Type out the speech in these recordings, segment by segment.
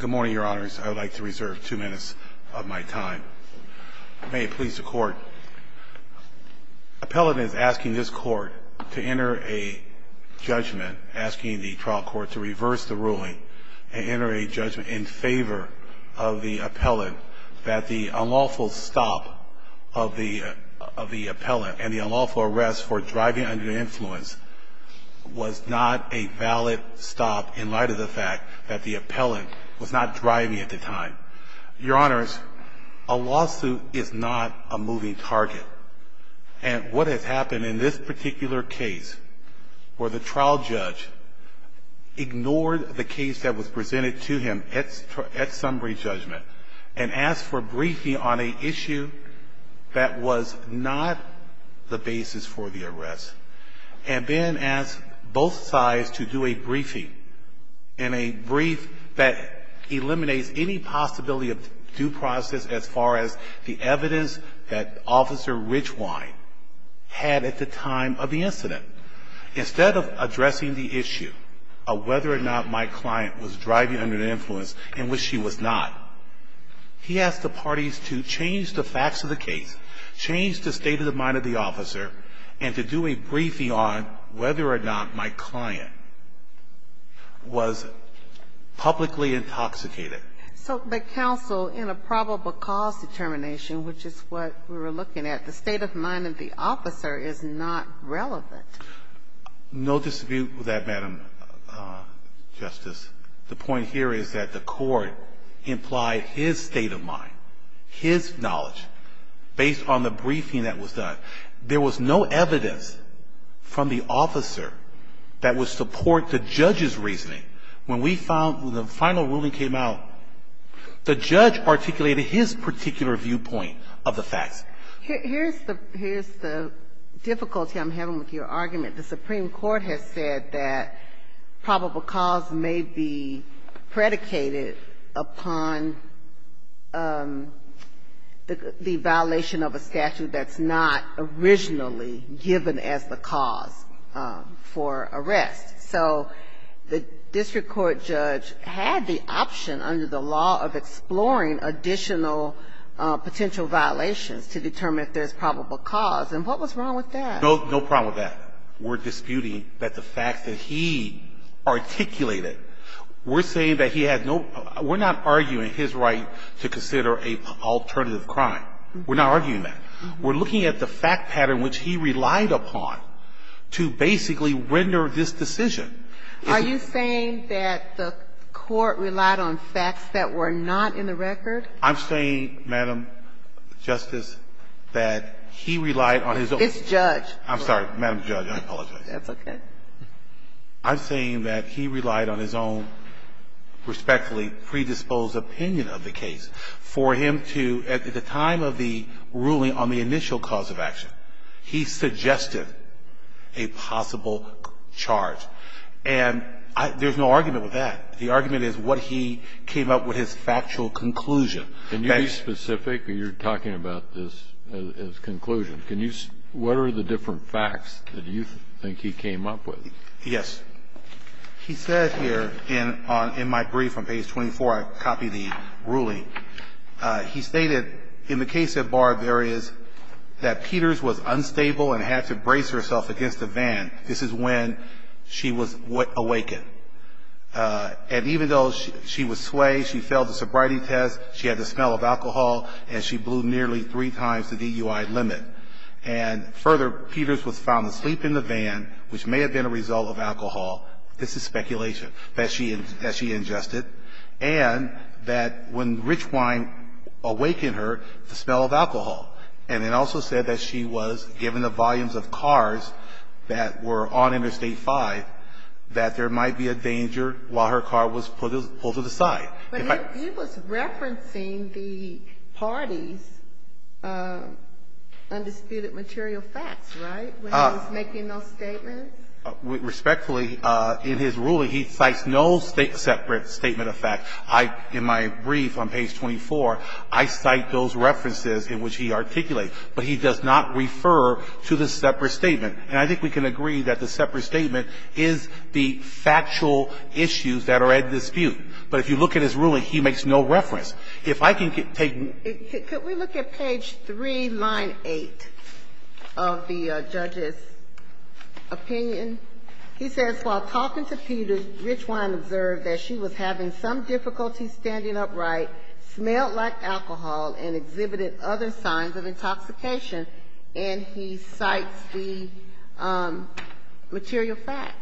Good morning, your honors. I would like to reserve two minutes of my time. May it please the court. Appellant is asking this court to enter a judgment, asking the trial court to reverse the ruling and enter a judgment in favor of the appellant that the unlawful stop of the appellant and the unlawful arrest for driving under the influence was not a valid stop in light of the fact that the appellant was not driving at the time. Your honors, a lawsuit is not a moving target and what has happened in this particular case where the trial judge ignored the case that was presented to him at summary judgment and asked for briefing on an issue that was not the basis for the arrest and then asked both sides to do a briefing in a brief that eliminates any possibility of due process as far as the evidence that Officer Richwine had at the time of the incident. Instead of addressing the issue of whether or not my client was driving under the influence and which she was not, he asked the parties to change the facts of the case, change the state of mind of the officer, and to do a briefing on whether or not my client was publicly intoxicated. So the counsel in a probable cause determination, which is what we were looking at, the state of mind of the officer is not relevant. No dispute with that, Madam Justice. The point here is that the court implied his state of mind, his knowledge, based on the briefing that was done. There was no evidence from the officer that would support the judge's reasoning. When we found the final ruling came out, the judge articulated his particular viewpoint of the facts. Here's the difficulty I'm having with your argument. The Supreme Court has said that probable cause may be predicated upon the violation of a statute that's not originally given as the cause for arrest. So the district court judge had the option under the law of exploring additional potential violations to determine if there's probable cause. And what was wrong with that? There's no problem with that. We're disputing that the facts that he articulated, we're saying that he had no – we're not arguing his right to consider an alternative crime. We're not arguing that. We're looking at the fact pattern which he relied upon to basically render this decision. Are you saying that the court relied on facts that were not in the record? I'm saying, Madam Justice, that he relied on his own. It's judge. I'm sorry, Madam Judge. I apologize. That's okay. I'm saying that he relied on his own respectfully predisposed opinion of the case for him to, at the time of the ruling on the initial cause of action, he suggested a possible charge. And there's no argument with that. The argument is what he came up with his factual conclusion. Can you be specific? You're talking about this as conclusion. Can you – what are the different facts that you think he came up with? Yes. He said here in my brief on page 24, I copied the ruling. He stated, in the case of Barr, there is that Peters was unstable and had to brace herself against a van. This is when she was awakened. And even though she was swayed, she failed the sobriety test, she had the smell of alcohol, and she blew nearly three times the DUI limit. And further, Peters was found asleep in the van, which may have been a result of alcohol. This is speculation that she ingested. And that when Richwine awakened her, the smell of alcohol. And it also said that she was, given the volumes of cars that were on Interstate 5, that there might be a danger while her car was pulled to the side. But he was referencing the parties' undisputed material facts, right, when he was making those statements? Respectfully, in his ruling, he cites no separate statement of facts. I, in my brief on page 24, I cite those references in which he articulates. But he does not refer to the separate statement. And I think we can agree that the separate statement is the factual issues that are at dispute. But if you look at his ruling, he makes no reference. If I can take them. Could we look at page 3, line 8 of the judge's opinion? He says, while talking to Peters, Richwine observed that she was having some difficulty standing upright, smelled like alcohol, and exhibited other signs of intoxication, and he cites the material facts.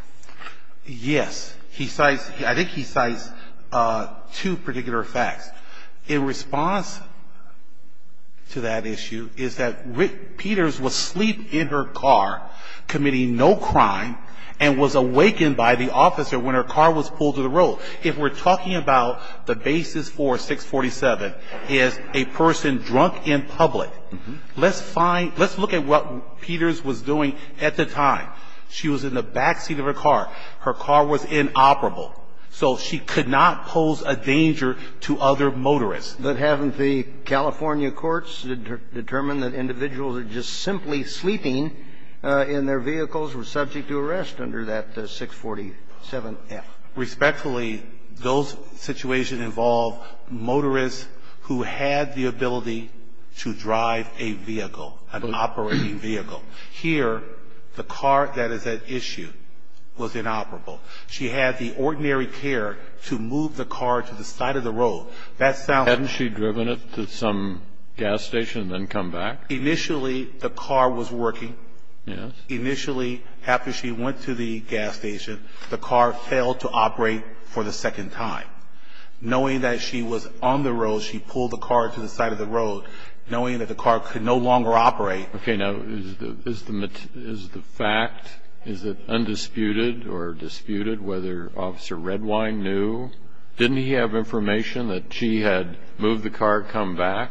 Yes. He cites, I think he cites two particular facts. In response to that issue is that Peters was asleep in her car, committing no crime, and was awakened by the officer when her car was pulled to the road. So if we're talking about the basis for 647 is a person drunk in public, let's find – let's look at what Peters was doing at the time. She was in the backseat of her car. Her car was inoperable. So she could not pose a danger to other motorists. But haven't the California courts determined that individuals are just simply sleeping in their vehicles were subject to arrest under that 647F? Respectfully, those situations involve motorists who had the ability to drive a vehicle, an operating vehicle. Here, the car that is at issue was inoperable. She had the ordinary care to move the car to the side of the road. That sounds – Hadn't she driven it to some gas station and then come back? Initially, the car was working. Yes. Initially, after she went to the gas station, the car failed to operate for the second time. Knowing that she was on the road, she pulled the car to the side of the road, knowing that the car could no longer operate. Okay. Now, is the fact – is it undisputed or disputed whether Officer Redwine knew? Didn't he have information that she had moved the car, come back?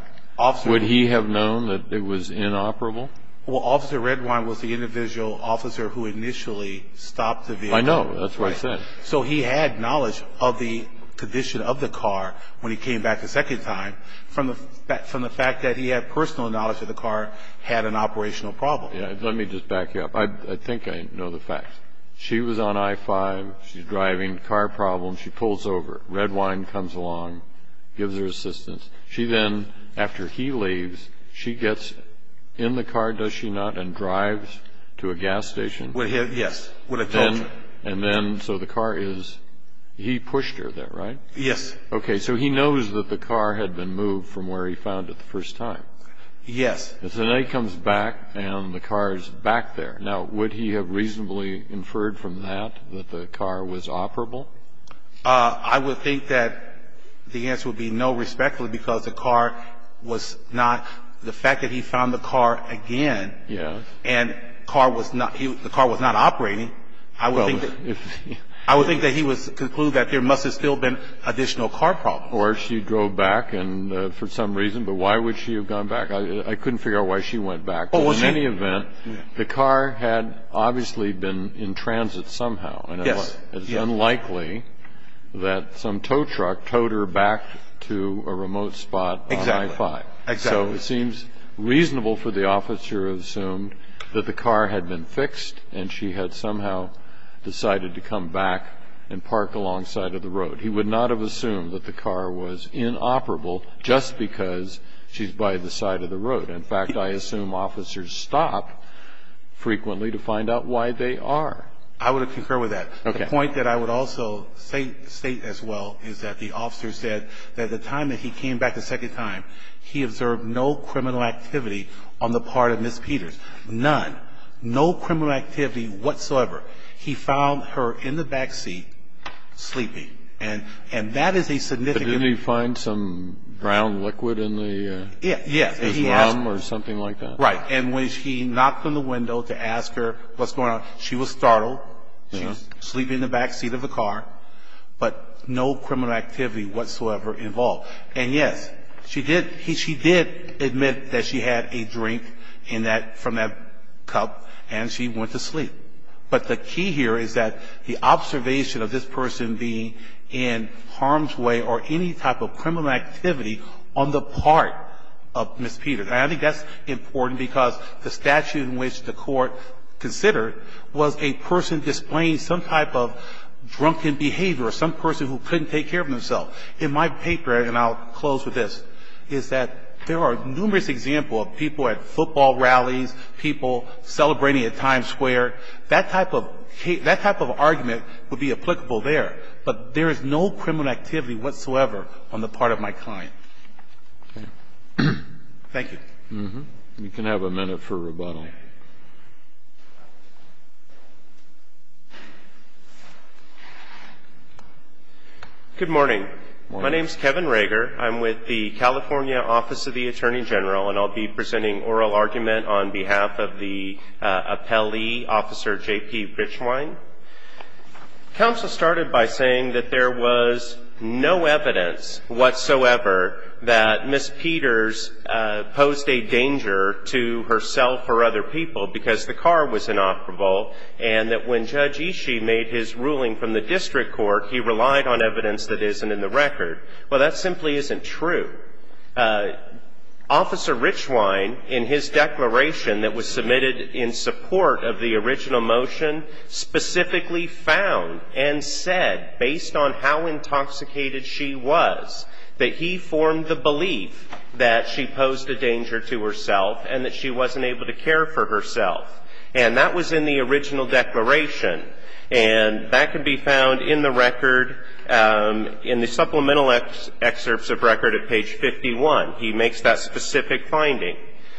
Would he have known that it was inoperable? Well, Officer Redwine was the individual officer who initially stopped the vehicle. I know. That's what I said. So he had knowledge of the condition of the car when he came back the second time from the fact that he had personal knowledge that the car had an operational problem. Let me just back you up. I think I know the facts. She was on I-5. She's driving. Car problem. She pulls over. Redwine comes along, gives her assistance. She then, after he leaves, she gets in the car, does she not, and drives to a gas station. Yes. And then so the car is – he pushed her there, right? Yes. Okay. So he knows that the car had been moved from where he found it the first time. Yes. And then he comes back and the car is back there. Now, would he have reasonably inferred from that that the car was operable? I would think that the answer would be no, respectfully, because the car was not – the fact that he found the car again and the car was not operating, I would think that he would conclude that there must have still been additional car problems. Or she drove back for some reason, but why would she have gone back? I couldn't figure out why she went back. In any event, the car had obviously been in transit somehow. Yes. It's unlikely that some tow truck towed her back to a remote spot on I-5. Exactly. So it seems reasonable for the officer to assume that the car had been fixed and she had somehow decided to come back and park alongside of the road. He would not have assumed that the car was inoperable just because she's by the side of the road. In fact, I assume officers stop frequently to find out why they are. I would concur with that. Okay. The point that I would also state as well is that the officer said that the time that he came back a second time, he observed no criminal activity on the part of Ms. Peters. None. No criminal activity whatsoever. He found her in the back seat sleeping. And that is a significant – But didn't he find some brown liquid in the – Yes. His mom or something like that? Right. And when she knocked on the window to ask her what's going on, she was startled. She was sleeping in the back seat of the car. But no criminal activity whatsoever involved. And, yes, she did admit that she had a drink in that – from that cup and she went to sleep. But the key here is that the observation of this person being in harm's way or any type of criminal activity on the part of Ms. Peters. And I think that's important because the statute in which the Court considered was a person displaying some type of drunken behavior or some person who couldn't take care of themselves. In my paper, and I'll close with this, is that there are numerous examples of people at football rallies, people celebrating at Times Square. That type of case – that type of argument would be applicable there. But there is no criminal activity whatsoever on the part of my client. Thank you. You can have a minute for rebuttal. Good morning. My name is Kevin Rager. I'm with the California Office of the Attorney General, and I'll be presenting oral argument on behalf of the appellee, Officer J.P. Grichwine. Counsel started by saying that there was no evidence whatsoever that Ms. Peters posed a danger to herself or other people because the car was inoperable, and that when Judge Ishii made his ruling from the district court, he relied on evidence that isn't in the record. Well, that simply isn't true. Officer Grichwine, in his declaration that was submitted in support of the original motion, specifically found and said, based on how intoxicated she was, that he formed the belief that she posed a danger to herself and that she wasn't able to care for herself. And that was in the original declaration, and that can be found in the record, in the supplemental excerpts of record at page 51. He makes that specific finding.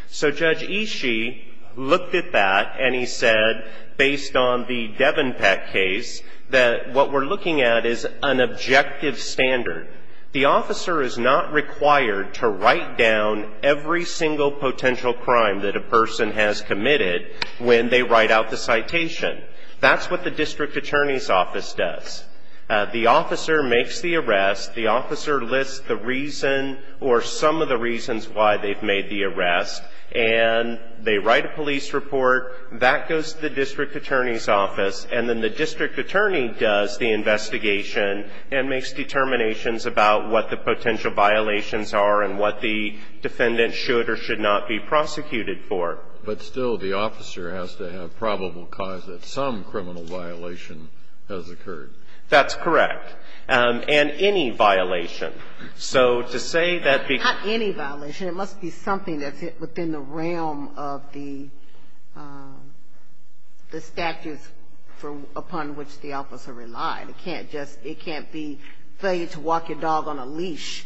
So Judge Ishii looked at that, and he said, based on the Devenpeck case, that what we're looking at is an objective standard. The officer is not required to write down every single potential crime that a person has committed when they write out the citation. That's what the district attorney's office does. The officer makes the arrest. The officer lists the reason or some of the reasons why they've made the arrest, and they write a police report. That goes to the district attorney's office, and then the district attorney does the investigation and makes determinations about what the potential violations are and what the defendant should or should not be prosecuted for. But still, the officer has to have probable cause that some criminal violation has occurred. That's correct. And any violation. So to say that the ---- Not any violation. It must be something that's within the realm of the statute upon which the officer relied. It can't just be failure to walk your dog on a leash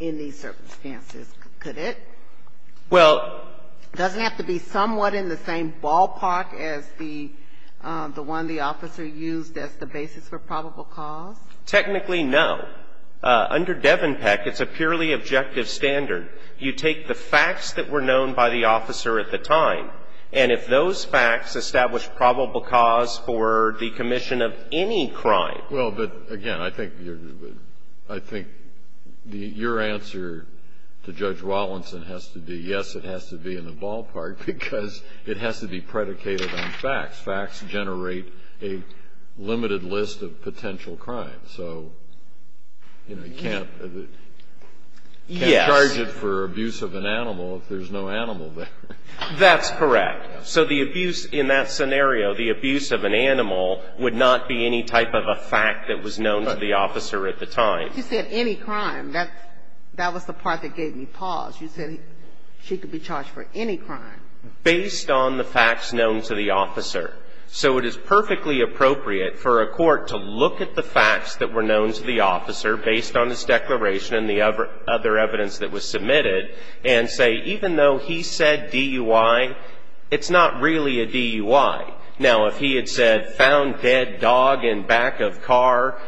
in these circumstances, could it? Well ---- It doesn't have to be somewhat in the same ballpark as the one the officer used as the basis for probable cause. Technically, no. Under Devenpeck, it's a purely objective standard. You take the facts that were known by the officer at the time, and if those facts establish probable cause for the commission of any crime ---- Well, but again, I think your ---- I think your answer to Judge Wallinson has to be, yes, it has to be in the ballpark, because it has to be predicated on facts. Facts generate a limited list of potential crimes. So, you know, you can't ---- Yes. You can't charge it for abuse of an animal if there's no animal there. That's correct. So the abuse in that scenario, the abuse of an animal would not be any type of a fact that was known to the officer at the time. You said any crime. That was the part that gave me pause. You said she could be charged for any crime. Based on the facts known to the officer. So it is perfectly appropriate for a court to look at the facts that were known to the officer based on his declaration and the other evidence that was submitted and say, even though he said DUI, it's not really a DUI. Now, if he had said, found dead dog in back of car,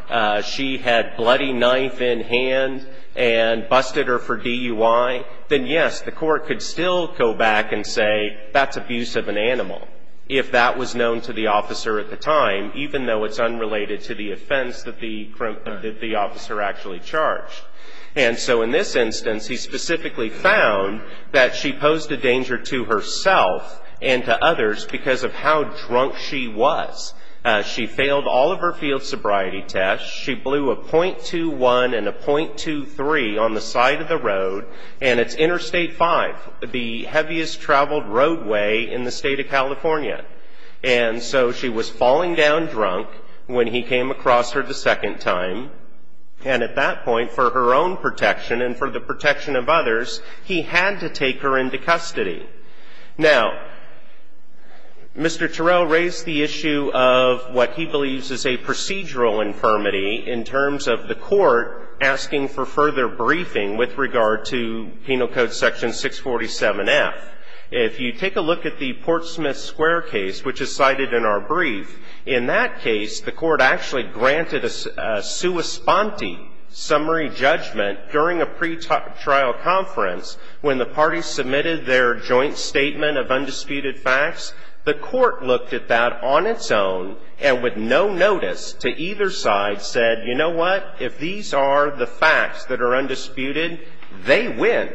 she had bloody knife in hand and busted her for DUI, then, yes, the court could still go back and say, that's abuse of an animal, if that was known to the officer at the time, even though it's unrelated to the offense that the officer actually charged. And so in this instance, he specifically found that she posed a danger to herself and to others because of how drunk she was. She failed all of her field sobriety tests. She blew a .21 and a .23 on the side of the road. And it's Interstate 5, the heaviest traveled roadway in the state of California. And so she was falling down drunk when he came across her the second time. And at that point, for her own protection and for the protection of others, he had to take her into custody. Now, Mr. Terrell raised the issue of what he believes is a procedural infirmity in terms of the court asking for further briefing with regard to Penal Code Section 647F. If you take a look at the Portsmouth Square case, which is cited in our brief, in that case, the court actually granted a sua sponte summary judgment during a pretrial conference when the parties submitted their joint statement of undisputed facts. The court looked at that on its own and with no notice to either side said, you know what, if these are the facts that are undisputed, they win.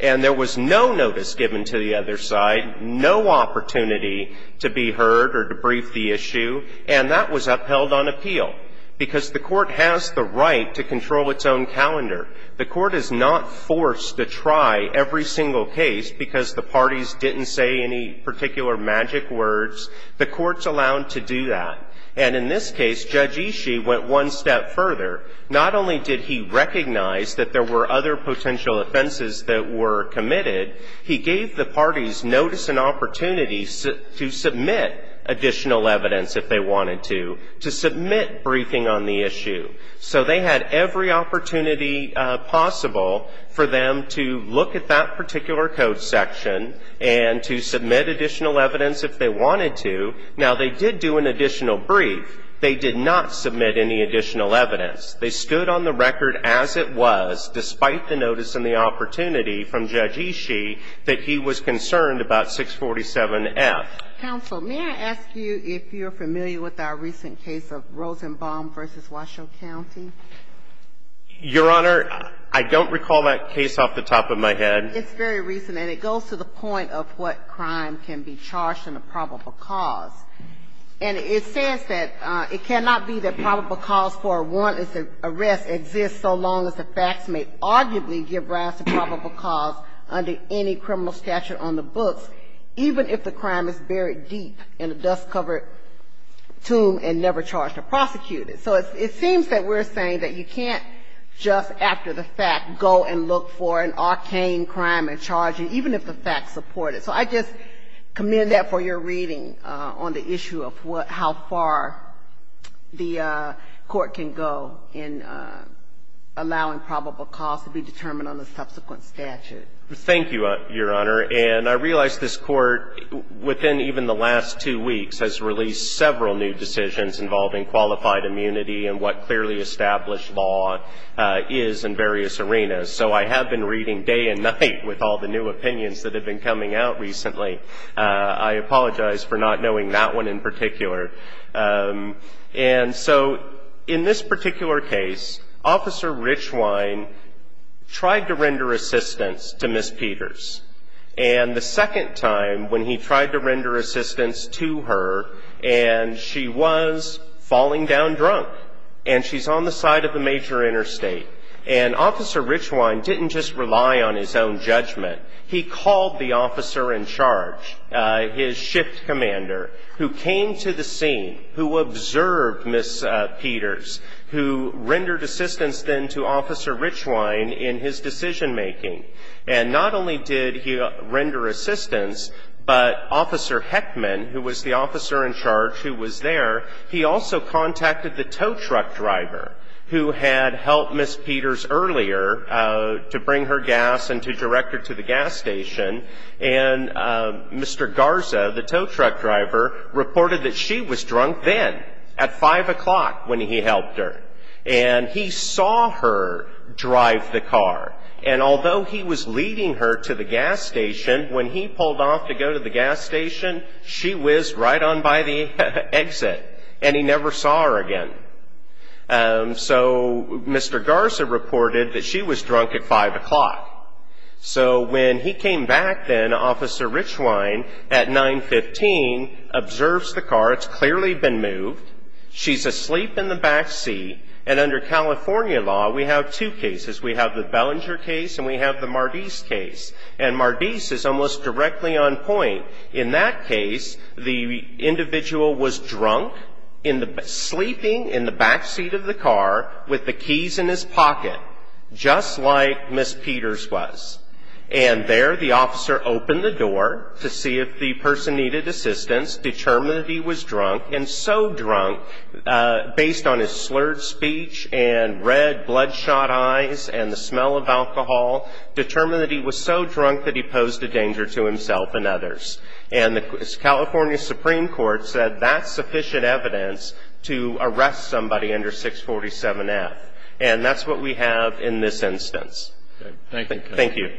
And there was no notice given to the other side, no opportunity to be heard or to brief the issue, and that was upheld on appeal because the court has the right to control its own calendar. The court is not forced to try every single case because the parties didn't say any particular magic words. The court's allowed to do that. And in this case, Judge Ishii went one step further. Not only did he recognize that there were other potential offenses that were committed, he gave the parties notice and opportunity to submit additional evidence if they wanted to, to submit briefing on the issue. So they had every opportunity possible for them to look at that particular code section and to submit additional evidence if they wanted to. Now, they did do an additional brief. They did not submit any additional evidence. They stood on the record as it was, despite the notice and the opportunity from Judge Ishii, that he was concerned about 647F. Counsel, may I ask you if you're familiar with our recent case of Rosenbaum v. Washoe County? Your Honor, I don't recall that case off the top of my head. It's very recent, and it goes to the point of what crime can be charged in a probable cause. And it says that it cannot be that probable cause for a warrantless arrest exists so long as the facts may arguably give rise to probable cause under any criminal statute on the books, even if the crime is buried deep in a dust-covered tomb and never charged or prosecuted. So it seems that we're saying that you can't just, after the fact, go and look for an arcane crime and charge it, even if the facts support it. So I just commend that for your reading on the issue of how far the Court can go in allowing probable cause to be determined on the subsequent statute. Thank you, Your Honor. And I realize this Court, within even the last two weeks, has released several new decisions involving qualified immunity and what clearly established law is in various arenas. So I have been reading day and night with all the new opinions that have been coming out recently. And so in this particular case, Officer Richwine tried to render assistance to Ms. Peters. And the second time, when he tried to render assistance to her, and she was falling down drunk, and she's on the side of the major interstate, and Officer Richwine didn't just rely on his own judgment. He called the officer in charge, his shift commander, who came to the scene, who observed Ms. Peters, who rendered assistance then to Officer Richwine in his decision-making. And not only did he render assistance, but Officer Heckman, who was the officer in charge who was there, he also contacted the tow truck driver who had helped Ms. Peters earlier to bring her gas and to direct her to the gas station. And Mr. Garza, the tow truck driver, reported that she was drunk then, at 5 o'clock, when he helped her. And he saw her drive the car. And although he was leading her to the gas station, when he pulled off to go to the gas station, she was right on by the exit, and he never saw her again. So Mr. Garza reported that she was drunk at 5 o'clock. So when he came back then, Officer Richwine, at 9.15, observes the car. It's clearly been moved. She's asleep in the backseat. And under California law, we have two cases. We have the Bellinger case, and we have the Mardis case. And Mardis is almost directly on point. In that case, the individual was drunk, sleeping in the backseat of the car, with the keys in his pocket, just like Ms. Peters was. And there, the officer opened the door to see if the person needed assistance, determined that he was drunk, and so drunk, based on his slurred speech and red bloodshot eyes and the smell of alcohol, determined that he was so drunk that he posed a danger to himself and others. And the California Supreme Court said that's sufficient evidence to arrest somebody under 647F. And that's what we have in this instance. Thank you.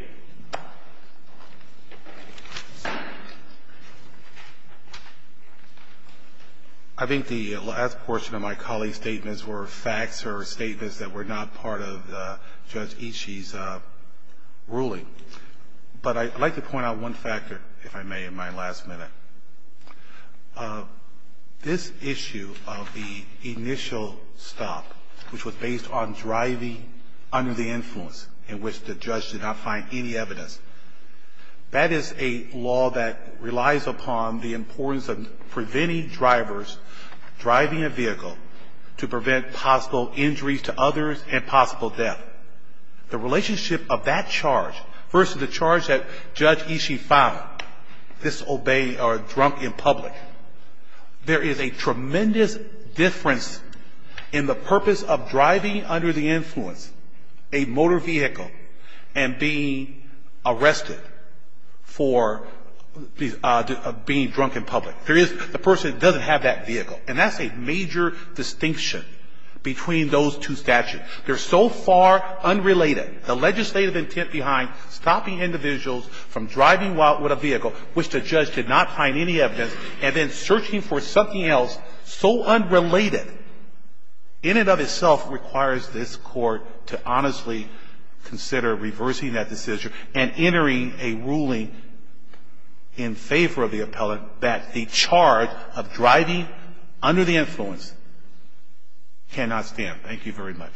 I think the last portion of my colleague's statements were facts or statements that were not part of Judge Ishii's ruling. But I'd like to point out one factor, if I may, in my last minute. This issue of the initial stop, which was based on driving under the influence, in which the judge did not find any evidence, that is a law that relies upon the importance of preventing drivers driving a vehicle to prevent possible injuries to others and possible death. The relationship of that charge versus the charge that Judge Ishii filed, this obeying or drunk in public, there is a tremendous difference in the purpose of driving under the influence a motor vehicle and being arrested for being drunk in public. There is the person that doesn't have that vehicle. And that's a major distinction between those two statutes. They're so far unrelated. The legislative intent behind stopping individuals from driving out with a vehicle, which the judge did not find any evidence, and then searching for something else so unrelated, in and of itself requires this Court to honestly consider reversing that decision and entering a ruling in favor of the appellant that the charge of driving under the influence cannot stand. Thank you very much.